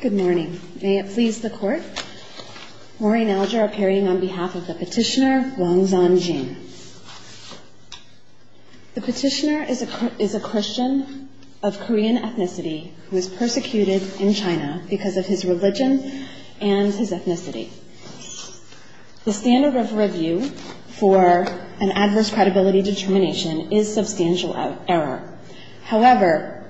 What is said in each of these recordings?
Good morning. May it please the court. Maureen Alger appearing on behalf of the petitioner, Wang Zanjing. The petitioner is a Christian of Korean ethnicity who is persecuted in China because of his religion and his ethnicity. The standard of review for an adverse credibility determination is substantial error. However,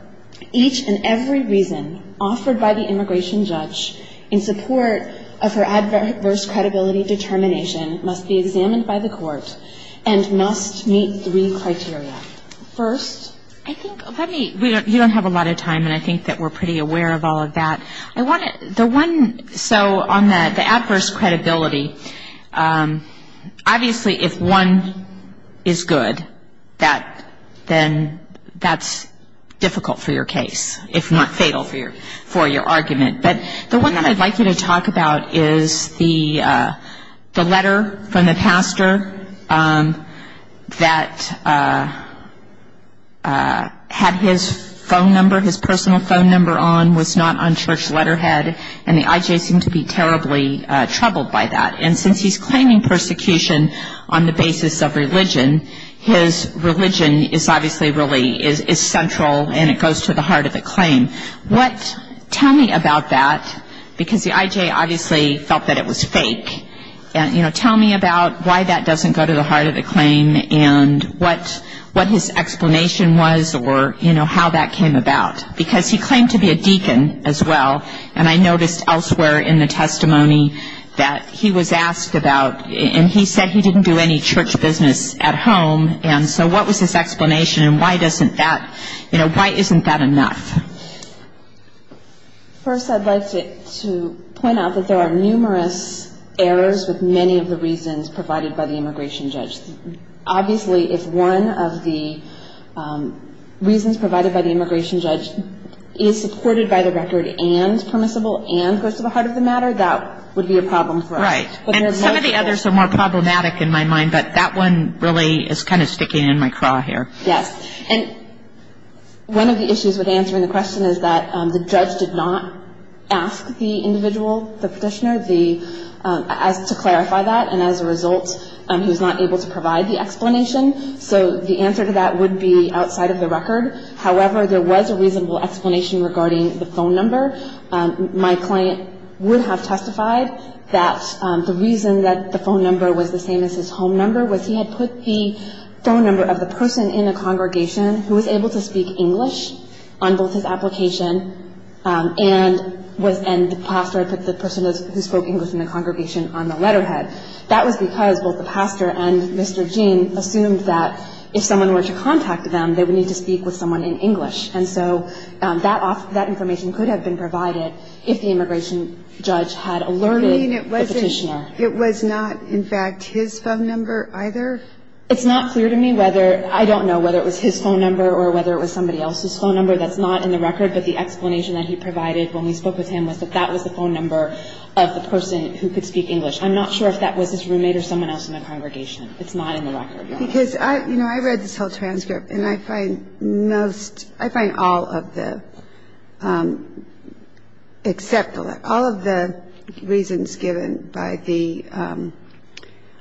each and every reason offered by the petitioner is sufficient evidence that the petitioner is a Christian. The opinion of the immigration judge in support of her adverse credibility determination must be examined by the court and must meet three criteria. First, I think, let me, you don't have a lot of time and I think that we're pretty aware of all of that. I want to, the one, so on the adverse credibility, obviously if one is good, then that's difficult for your case, if not fatal for your argument. But the one that I'd like you to talk about is the letter from the pastor that had his phone number, his personal phone number on, was not on church letterhead, and the IJ seemed to be terribly troubled by that. And since he's claiming persecution on the basis of religion, his religion is obviously really is central and it goes to the heart of the claim. What, tell me about that. Because the IJ obviously felt that it was fake. And, you know, tell me about why that doesn't go to the heart of the claim and what his explanation was or, you know, how that came about. Because he claimed to be a deacon as well, and I noticed elsewhere in the testimony that he was asked about, and he said he didn't do any church business at home, and so what was his explanation and why doesn't that, you know, why isn't that enough? Well, first I'd like to point out that there are numerous errors with many of the reasons provided by the immigration judge. Obviously if one of the reasons provided by the immigration judge is supported by the record and permissible and goes to the heart of the matter, that would be a problem for us. Right. And some of the others are more problematic in my mind, but that one really is kind of sticking in my craw here. Yes. And one of the issues with answering the question is that the judge did not ask the individual, the petitioner, to clarify that, and as a result he was not able to provide the explanation. So the answer to that would be outside of the record. However, there was a reasonable explanation regarding the phone number. My client would have testified that the reason that the phone number was the same as his home number was he had put the phone number of the person in the congregation who was able to speak English on both his application and the pastor had put the person who spoke English in the congregation on the letterhead. That was because both the pastor and Mr. Jean assumed that if someone were to contact them, they would need to speak with someone in English, and so that information could have been provided. If the immigration judge had alerted the petitioner. You mean it was not, in fact, his phone number either? It's not clear to me whether, I don't know whether it was his phone number or whether it was somebody else's phone number. That's not in the record, but the explanation that he provided when we spoke with him was that that was the phone number of the person who could speak English. I'm not sure if that was his roommate or someone else in the congregation. It's not in the record. All of the reasons given by the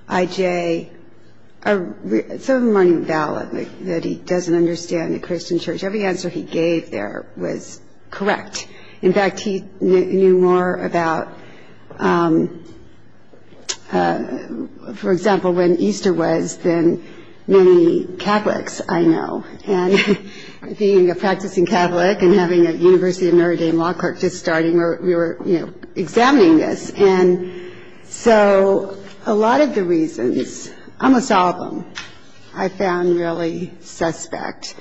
IJ, some of them aren't even valid, that he doesn't understand the Christian church. Every answer he gave there was correct. In fact, he knew more about, for example, when Easter was than many Catholics I know. And being a practicing Catholic and having a University of Notre Dame law clerk just starting, we were examining this. And so a lot of the reasons, almost all of them, I found really suspect.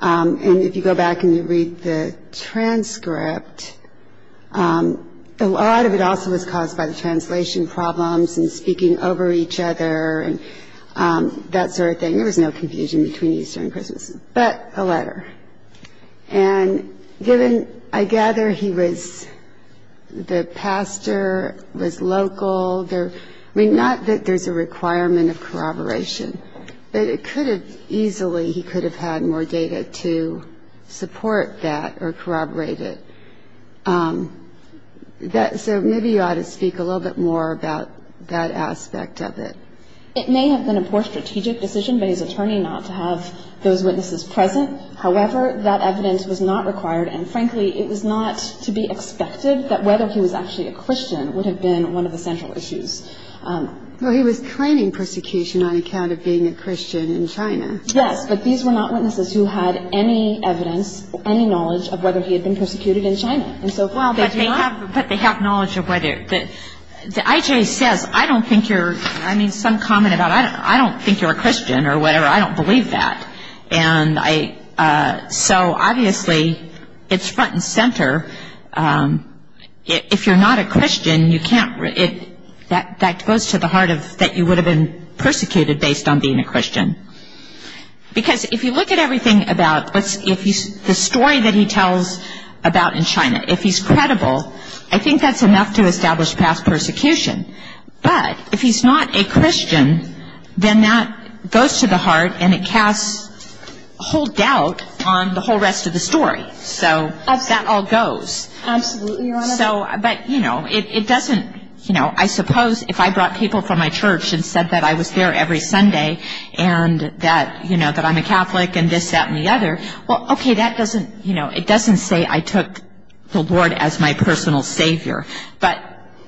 And if you go back and you read the transcript, a lot of it also was caused by the translation problems and speaking over each other and that sort of thing. There was no confusion between Easter and Christmas, but a letter. And given, I gather he was the pastor, was local. I mean, not that there's a requirement of corroboration, but it could have easily, he could have had more data to support that or corroborate it. So maybe you ought to speak a little bit more about that aspect of it. It may have been a poor strategic decision by his attorney not to have those witnesses present. However, that evidence was not required. And frankly, it was not to be expected that whether he was actually a Christian would have been one of the central issues. Well, he was claiming persecution on account of being a Christian in China. Yes, but these were not witnesses who had any evidence, any knowledge of whether he had been persecuted in China. Well, but they have knowledge of whether. I.J. says, I don't think you're, I mean, some comment about, I don't think you're a Christian or whatever. I don't believe that. And so obviously, it's front and center. If you're not a Christian, you can't, that goes to the heart of that you would have been persecuted based on being a Christian. Because if you look at everything about what's, if he's, the story that he tells about in China, if he's credible, I think that's enough to establish past persecution. But if he's not a Christian, then that goes to the heart and it casts whole doubt on the whole rest of the story. So that all goes. Absolutely, Your Honor. So, but, you know, it doesn't, you know, I suppose if I brought people from my church and said that I was there every Sunday and that, you know, that I'm a Catholic and this, that and the other, well, okay, that doesn't, you know, it doesn't say I took the Lord as my personal Savior. But,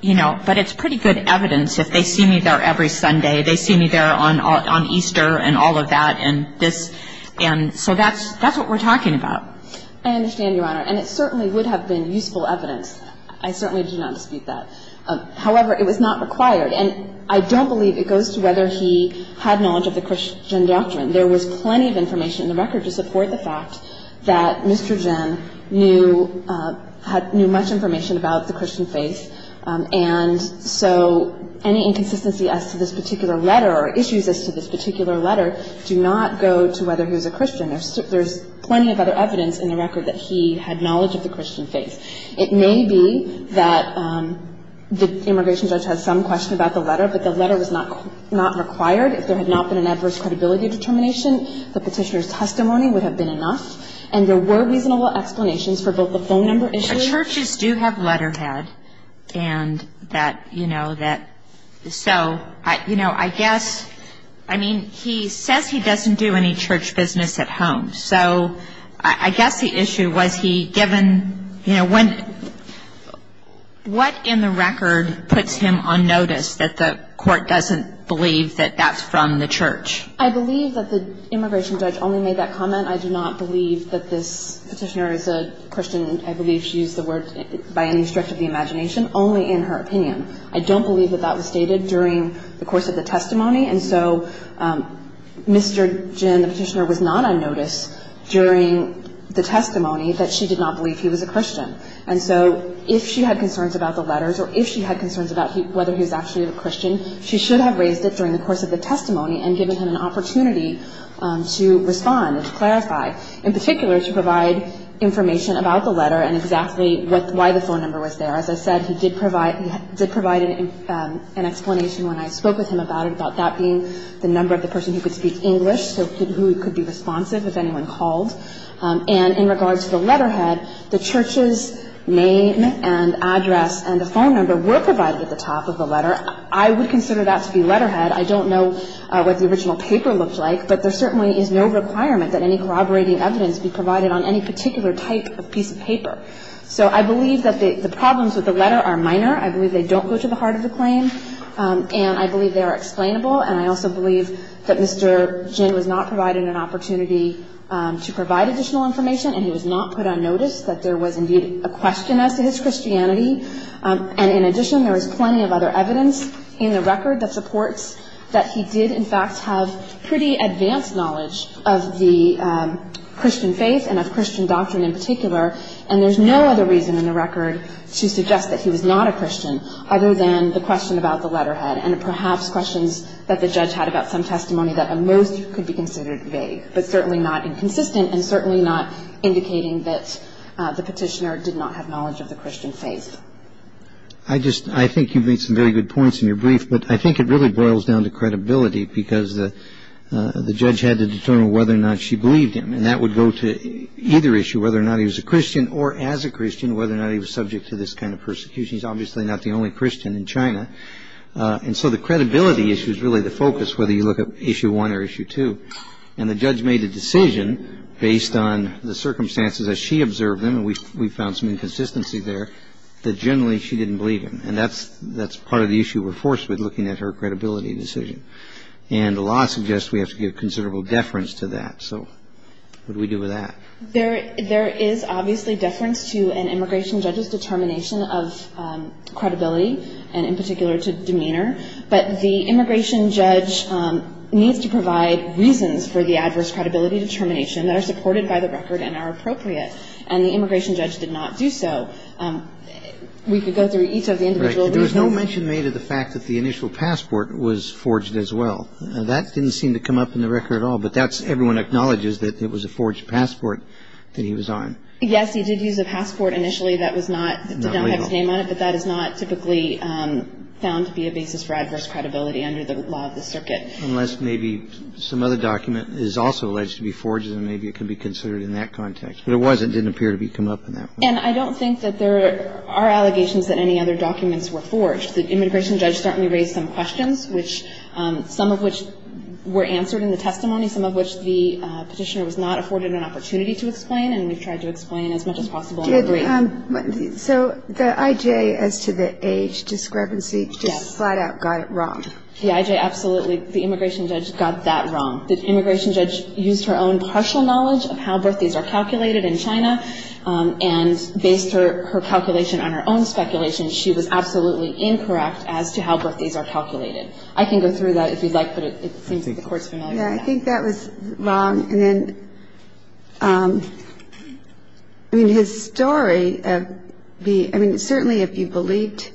you know, but it's pretty good evidence. If they see me there every Sunday, they see me there on Easter and all of that and this. And so that's, that's what we're talking about. I understand, Your Honor. And it certainly would have been useful evidence. I certainly do not dispute that. However, it was not required. And I don't believe it goes to whether he had knowledge of the Christian doctrine. There was plenty of information in the record to support the fact that Mr. Jin knew, knew much information about the Christian faith. And so any inconsistency as to this particular letter or issues as to this particular letter do not go to whether he was a Christian. There's plenty of other evidence in the record that he had knowledge of the Christian faith. It may be that the immigration judge had some question about the letter, but the letter was not required. If there had not been an adverse credibility determination, the petitioner's testimony would have been enough. And there were reasonable explanations for both the phone number issue. Churches do have letterhead and that, you know, that, so, you know, I guess, I mean, he says he doesn't do any church business at home. So I guess the issue was he given, you know, when, what in the record puts him on notice that the court doesn't believe that that's from the church? I believe that the immigration judge only made that comment. I do not believe that this petitioner is a Christian. I believe she used the word, by any stretch of the imagination, only in her opinion. I don't believe that that was stated during the course of the testimony. And so Mr. Jin, the petitioner, was not on notice during the testimony that she did not believe he was a Christian. And so if she had concerns about the letters or if she had concerns about whether he was actually a Christian, she should have raised it during the course of the testimony and given him an opportunity to respond and to clarify. In particular, to provide information about the letter and exactly why the phone number was there. As I said, he did provide an explanation when I spoke with him about it, about that being the number of the person who could speak English, so who could be responsive if anyone called. And in regards to the letterhead, the church's name and address and the phone number were provided at the top of the letter. I would consider that to be letterhead. I don't know what the original paper looked like, but there certainly is no requirement that any corroborating evidence be provided on any particular type of piece of paper. So I believe that the problems with the letter are minor. I believe they don't go to the heart of the claim. And I believe they are explainable. And I also believe that Mr. Jin was not provided an opportunity to provide additional information and he was not put on notice that there was indeed a question as to his Christianity. And in addition, there was plenty of other evidence in the record that supports that he did, in fact, have pretty advanced knowledge of the Christian faith and of Christian doctrine in particular. And there's no other reason in the record to suggest that he was not a Christian other than the question about the letterhead and perhaps questions that the judge had about some testimony that at most could be considered vague, but certainly not inconsistent and certainly not indicating that the petitioner did not have knowledge of the Christian faith. I just – I think you've made some very good points in your brief, but I think it really boils down to credibility because the judge had to determine whether or not she believed him. And that would go to either issue, whether or not he was a Christian or as a Christian, whether or not he was subject to this kind of persecution. He's obviously not the only Christian in China. And so the credibility issue is really the focus, whether you look at issue one or issue two. And the judge made a decision based on the circumstances as she observed them, and we found some inconsistency there, that generally she didn't believe him. And that's part of the issue we're forced with looking at her credibility decision. And the law suggests we have to give considerable deference to that. So what do we do with that? There is obviously deference to an immigration judge's determination of credibility, and in particular to demeanor. But the immigration judge needs to provide reasons for the adverse credibility determination that are supported by the record and are appropriate. And the immigration judge did not do so. We could go through each of the individual reasons. There was no mention made of the fact that the initial passport was forged as well. That didn't seem to come up in the record at all, but everyone acknowledges that it was a forged passport that he was on. Yes, he did use a passport initially that did not have his name on it, but that is not typically found to be a basis for adverse credibility under the law of the circuit. Unless maybe some other document is also alleged to be forged, and maybe it can be considered in that context. But it wasn't. It didn't appear to be come up in that one. And I don't think that there are allegations that any other documents were forged. The immigration judge certainly raised some questions, some of which were answered in the testimony, some of which the petitioner was not afforded an opportunity to explain, and we've tried to explain as much as possible. So the I.J. as to the age discrepancy just flat out got it wrong. The I.J. absolutely, the immigration judge got that wrong. The immigration judge used her own partial knowledge of how birthdays are calculated in China, and based her calculation on her own speculation, she was absolutely incorrect as to how birthdays are calculated. I can go through that if you'd like, but it seems the Court's familiar with that. Yeah, I think that was wrong. And then, I mean, his story of being, I mean, certainly if you believed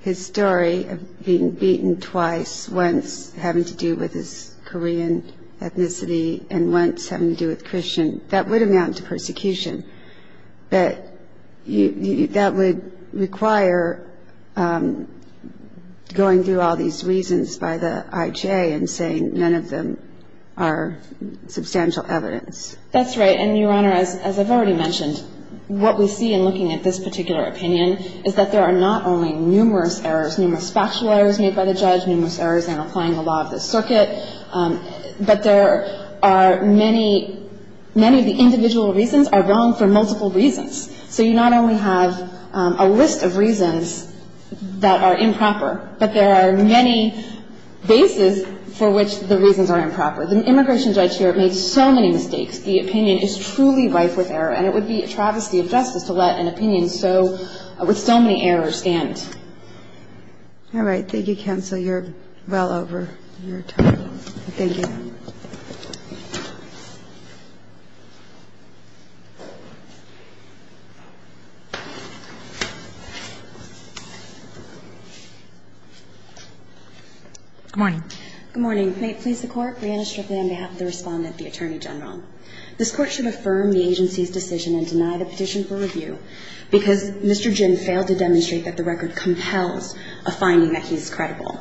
his story of being beaten twice, once having to do with his Korean ethnicity and once having to do with Christian, that would amount to persecution, but that would require going through all these reasons by the I.J. and saying none of them are substantial evidence. That's right. And, Your Honor, as I've already mentioned, what we see in looking at this particular opinion is that there are not only numerous errors, numerous factual errors made by the judge, numerous errors in applying the law of the circuit, but there are many of the individual reasons are wrong for multiple reasons. So you not only have a list of reasons that are improper, but there are many bases for which the reasons are improper. The immigration judge here made so many mistakes. The opinion is truly rife with error, and it would be a travesty of justice to let an opinion with so many errors stand. All right. I don't think you can, so you're well over your time. Thank you, Your Honor. Good morning. Good morning. May it please the Court, Breanna Strickland on behalf of the Respondent, the Attorney General. This Court should affirm the agency's decision and deny the petition for review because Mr. Jim failed to demonstrate that the record compels a finding that he's credible.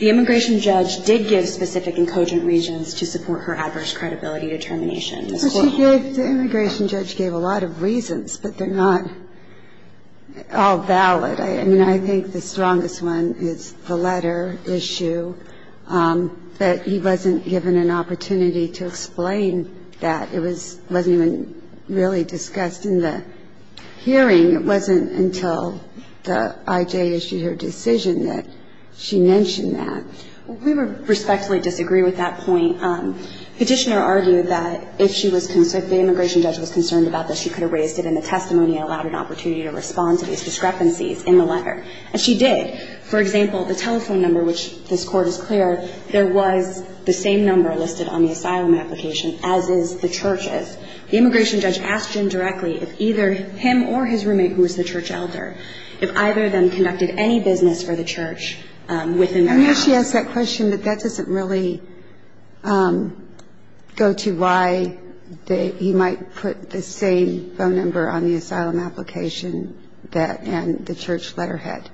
The immigration judge did give specific and cogent reasons to support her adverse credibility determination. The immigration judge gave a lot of reasons, but they're not all valid. I mean, I think the strongest one is the letter issue, that he wasn't given an opportunity to explain that. It wasn't even really discussed in the hearing. It wasn't until the I.J. issued her decision that she mentioned that. We respectfully disagree with that point. Petitioner argued that if the immigration judge was concerned about this, she could have raised it in the testimony and allowed an opportunity to respond to these discrepancies in the letter. And she did. For example, the telephone number, which this Court is clear, there was the same number listed on the asylum application, as is the church's. The immigration judge asked Jim directly if either him or his roommate, who is the church elder, if either of them conducted any business for the church within their house. I know she asked that question, but that doesn't really go to why he might put the same phone number on the asylum application and the church letterhead.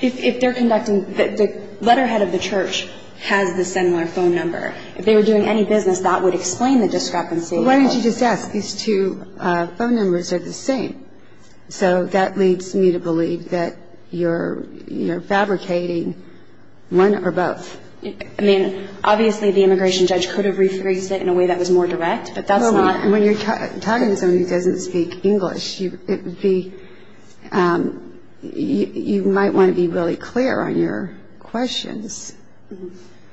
If they're conducting, the letterhead of the church has the similar phone number. If they were doing any business, that would explain the discrepancy. Why don't you just ask? These two phone numbers are the same. So that leads me to believe that you're fabricating one or both. I mean, obviously, the immigration judge could have rephrased it in a way that was more direct, but that's not. And when you're talking to someone who doesn't speak English, you might want to be really clear on your questions.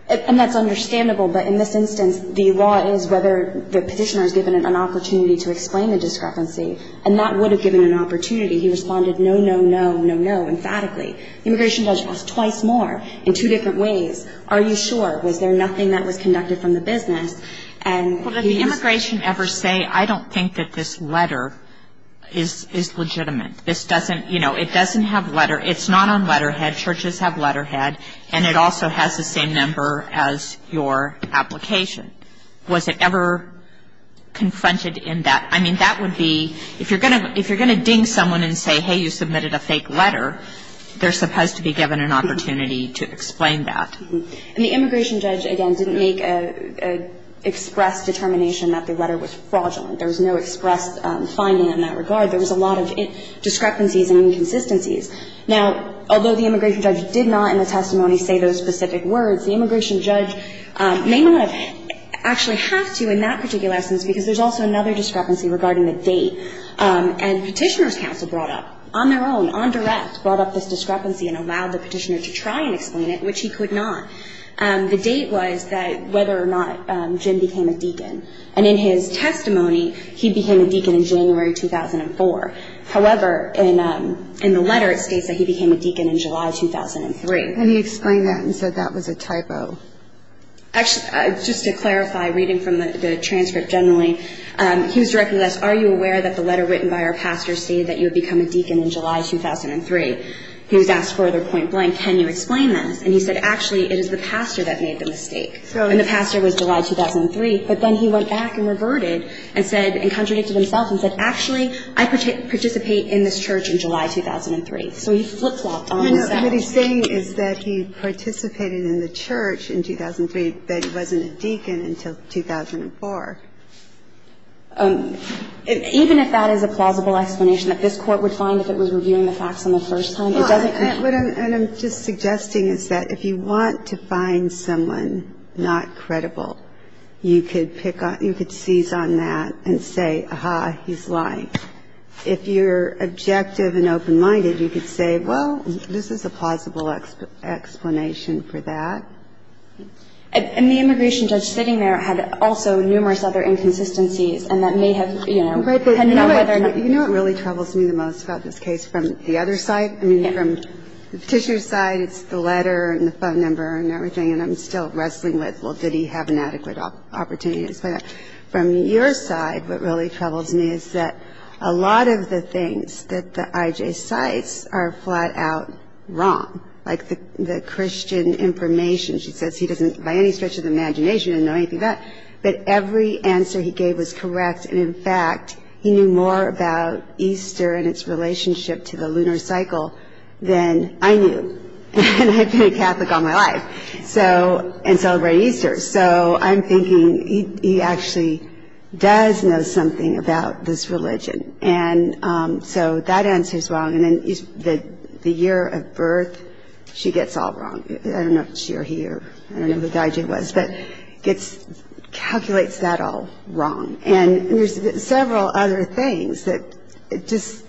And that's understandable, but in this instance, the law is whether the petitioner is given an opportunity to explain the discrepancy, and that would have given an opportunity. He responded, no, no, no, no, no, emphatically. The immigration judge asked twice more in two different ways. Are you sure? Was there nothing that was conducted from the business? Well, did the immigration ever say, I don't think that this letter is legitimate? This doesn't, you know, it doesn't have letter. It's not on letterhead. Churches have letterhead, and it also has the same number as your application. Was it ever confronted in that? I mean, that would be, if you're going to ding someone and say, hey, you submitted a fake letter, they're supposed to be given an opportunity to explain that. And the immigration judge, again, didn't make an express determination that the letter was fraudulent. There was no express finding in that regard. There was a lot of discrepancies and inconsistencies. Now, although the immigration judge did not in the testimony say those specific words, the immigration judge may not have actually had to in that particular instance because there's also another discrepancy regarding the date. And Petitioner's Counsel brought up, on their own, on direct, brought up this discrepancy and allowed the petitioner to try and explain it, which he could not. The date was that whether or not Jim became a deacon. And in his testimony, he became a deacon in January 2004. However, in the letter it states that he became a deacon in July 2003. And he explained that and said that was a typo. Actually, just to clarify, reading from the transcript generally, he was directly asked, are you aware that the letter written by our pastor stated that you would become a deacon in July 2003? He was asked further point blank, can you explain this? And he said, actually, it is the pastor that made the mistake. And the pastor was July 2003. But then he went back and reverted and said, and contradicted himself and said, actually, I participate in this church in July 2003. So he flip-flopped on the subject. Ginsburg. No, no. What he's saying is that he participated in the church in 2003, that he wasn't a deacon until 2004. Even if that is a plausible explanation that this Court would find if it was reviewing the facts on the first time, it doesn't concern us. Well, what I'm just suggesting is that if you want to find someone not credible, you could pick on, you could seize on that and say, aha, he's lying. If you're objective and open-minded, you could say, well, this is a plausible explanation for that. And the immigration judge sitting there had also numerous other inconsistencies, and that may have, you know, had no way of knowing. You know what really troubles me the most about this case from the other side? Yeah. I mean, from the petitioner's side, it's the letter and the phone number and everything, and I'm still wrestling with, well, did he have an adequate opportunity to explain that. From your side, what really troubles me is that a lot of the things that the IJ cites are flat-out wrong, like the Christian information. She says he doesn't, by any stretch of the imagination, know anything of that. But every answer he gave was correct. And, in fact, he knew more about Easter and its relationship to the lunar cycle than I knew. And I've been a Catholic all my life and celebrate Easter. So I'm thinking he actually does know something about this religion. And so that answer is wrong. And then the year of birth, she gets all wrong. I don't know if she or he or I don't know who the IJ was, but calculates that all wrong. And there's several other things that just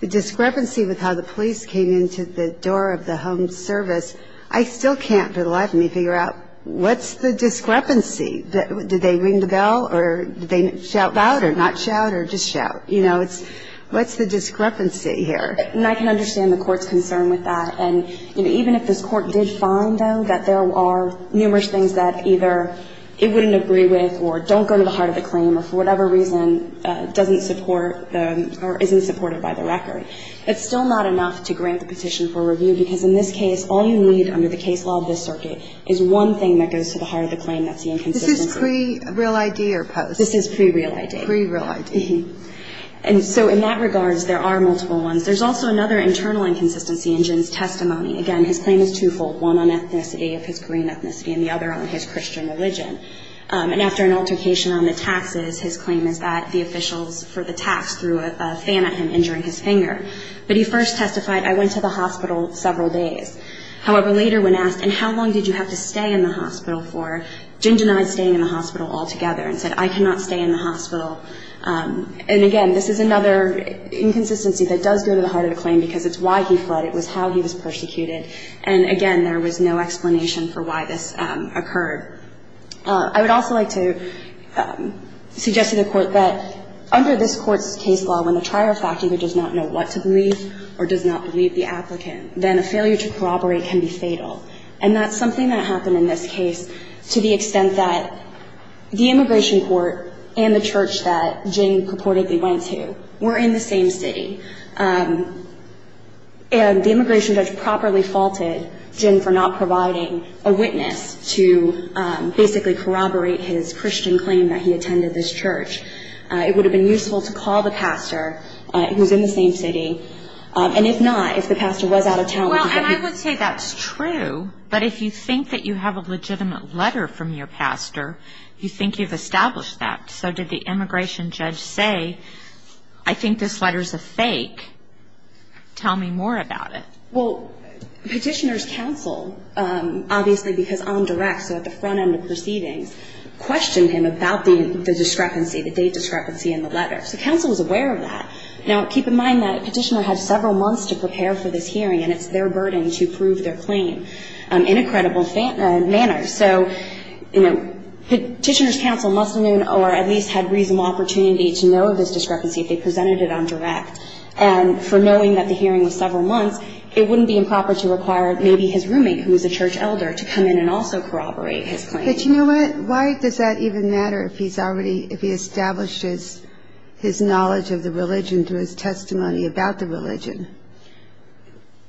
the discrepancy with how the police came into the door of the home service, I still can't for the life of me figure out what's the discrepancy? Did they ring the bell or did they shout out or not shout or just shout? What's the discrepancy here? And I can understand the Court's concern with that. And even if this Court did find, though, that there are numerous things that either it wouldn't agree with or don't go to the heart of the claim or, for whatever reason, doesn't support or isn't supported by the record, it's still not enough to grant the petition for review because, in this case, all you need under the case law of this circuit is one thing that goes to the heart of the claim. That's the inconsistency. This is pre-real ID or post? This is pre-real ID. Pre-real ID. And so in that regards, there are multiple ones. There's also another internal inconsistency in Jin's testimony. Again, his claim is twofold, one on ethnicity, of his Korean ethnicity, and the other on his Christian religion. And after an altercation on the taxes, his claim is that the officials for the tax threw a fan at him, injuring his finger. But he first testified, I went to the hospital several days. However, later when asked, and how long did you have to stay in the hospital for, Jin denied staying in the hospital altogether and said, I cannot stay in the hospital. And, again, this is another inconsistency that does go to the heart of the claim because it's why he fled. It was how he was persecuted. And, again, there was no explanation for why this occurred. I would also like to suggest to the Court that under this Court's case law, when the trier of fact either does not know what to believe or does not believe the applicant, then a failure to corroborate can be fatal. And that's something that happened in this case to the extent that the immigration court and the church that Jin purportedly went to were in the same city. And the immigration judge properly faulted Jin for not providing a witness to basically corroborate his Christian claim that he attended this church. It would have been useful to call the pastor who's in the same city. And if not, if the pastor was out of town, would you get him? And I would say that's true. But if you think that you have a legitimate letter from your pastor, you think you've established that. So did the immigration judge say, I think this letter's a fake, tell me more about it? Well, Petitioner's counsel, obviously because on direct, so at the front end of proceedings, questioned him about the discrepancy, the date discrepancy in the letter. So counsel was aware of that. Now, keep in mind that Petitioner had several months to prepare for this hearing, and it's their burden to prove their claim in a credible manner. So, you know, Petitioner's counsel must have known or at least had reasonable opportunity to know of this discrepancy if they presented it on direct. And for knowing that the hearing was several months, it wouldn't be improper to require maybe his roommate, who was a church elder, to come in and also corroborate his claim. But you know what? Why does that even matter if he's already, if he establishes his knowledge of the religion through his testimony about the religion?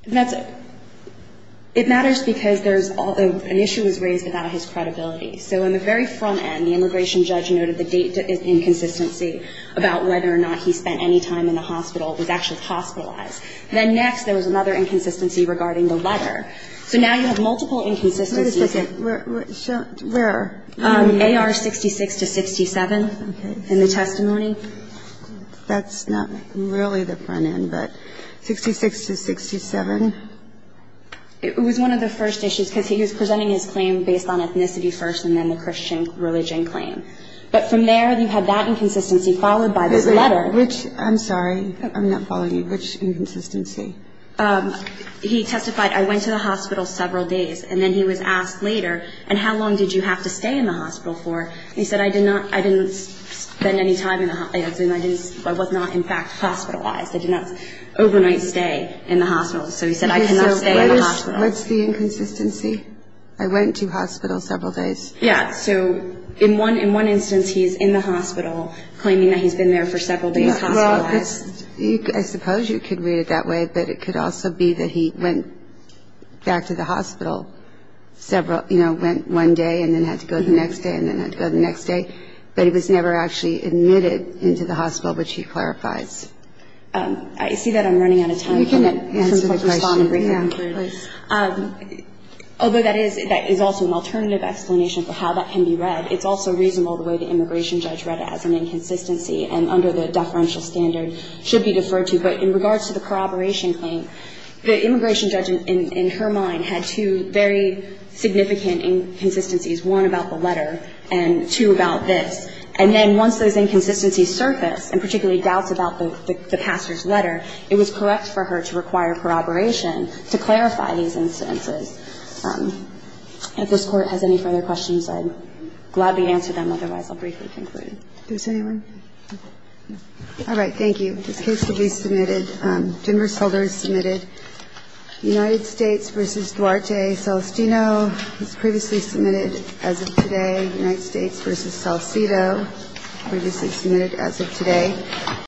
That's a, it matters because there's, an issue was raised about his credibility. So on the very front end, the immigration judge noted the date inconsistency about whether or not he spent any time in the hospital, was actually hospitalized. Then next, there was another inconsistency regarding the letter. So now you have multiple inconsistencies. Where? AR 66 to 67 in the testimony. That's not really the front end, but 66 to 67? It was one of the first issues because he was presenting his claim based on ethnicity first and then the Christian religion claim. But from there, you have that inconsistency followed by this letter. Which, I'm sorry, I'm not following you. Which inconsistency? He testified, I went to the hospital several days. And then he was asked later, and how long did you have to stay in the hospital for? He said, I did not, I didn't spend any time in the, I was not in fact hospitalized. I did not overnight stay in the hospital. So he said, I cannot stay in the hospital. What's the inconsistency? I went to hospital several days. Yeah, so in one instance, he's in the hospital claiming that he's been there for several days hospitalized. I suppose you could read it that way, but it could also be that he went back to the hospital several, you know, went one day and then had to go the next day and then had to go the next day. But he was never actually admitted into the hospital, which he clarifies. I see that I'm running out of time. You can answer the question. Although that is also an alternative explanation for how that can be read, it's also reasonable the way the immigration judge read it as an inconsistency. And under the deferential standard, should be deferred to. But in regards to the corroboration claim, the immigration judge, in her mind, had two very significant inconsistencies, one about the letter and two about this. And then once those inconsistencies surfaced, and particularly doubts about the pastor's letter, it was correct for her to require corroboration to clarify these incidences. If this Court has any further questions, I'd gladly answer them. Otherwise, I'll briefly conclude. Does anyone? All right. Thank you. This case will be submitted. Jennifer Solder is submitted. United States v. Duarte Celestino is previously submitted as of today. United States v. Salcido, previously submitted as of today.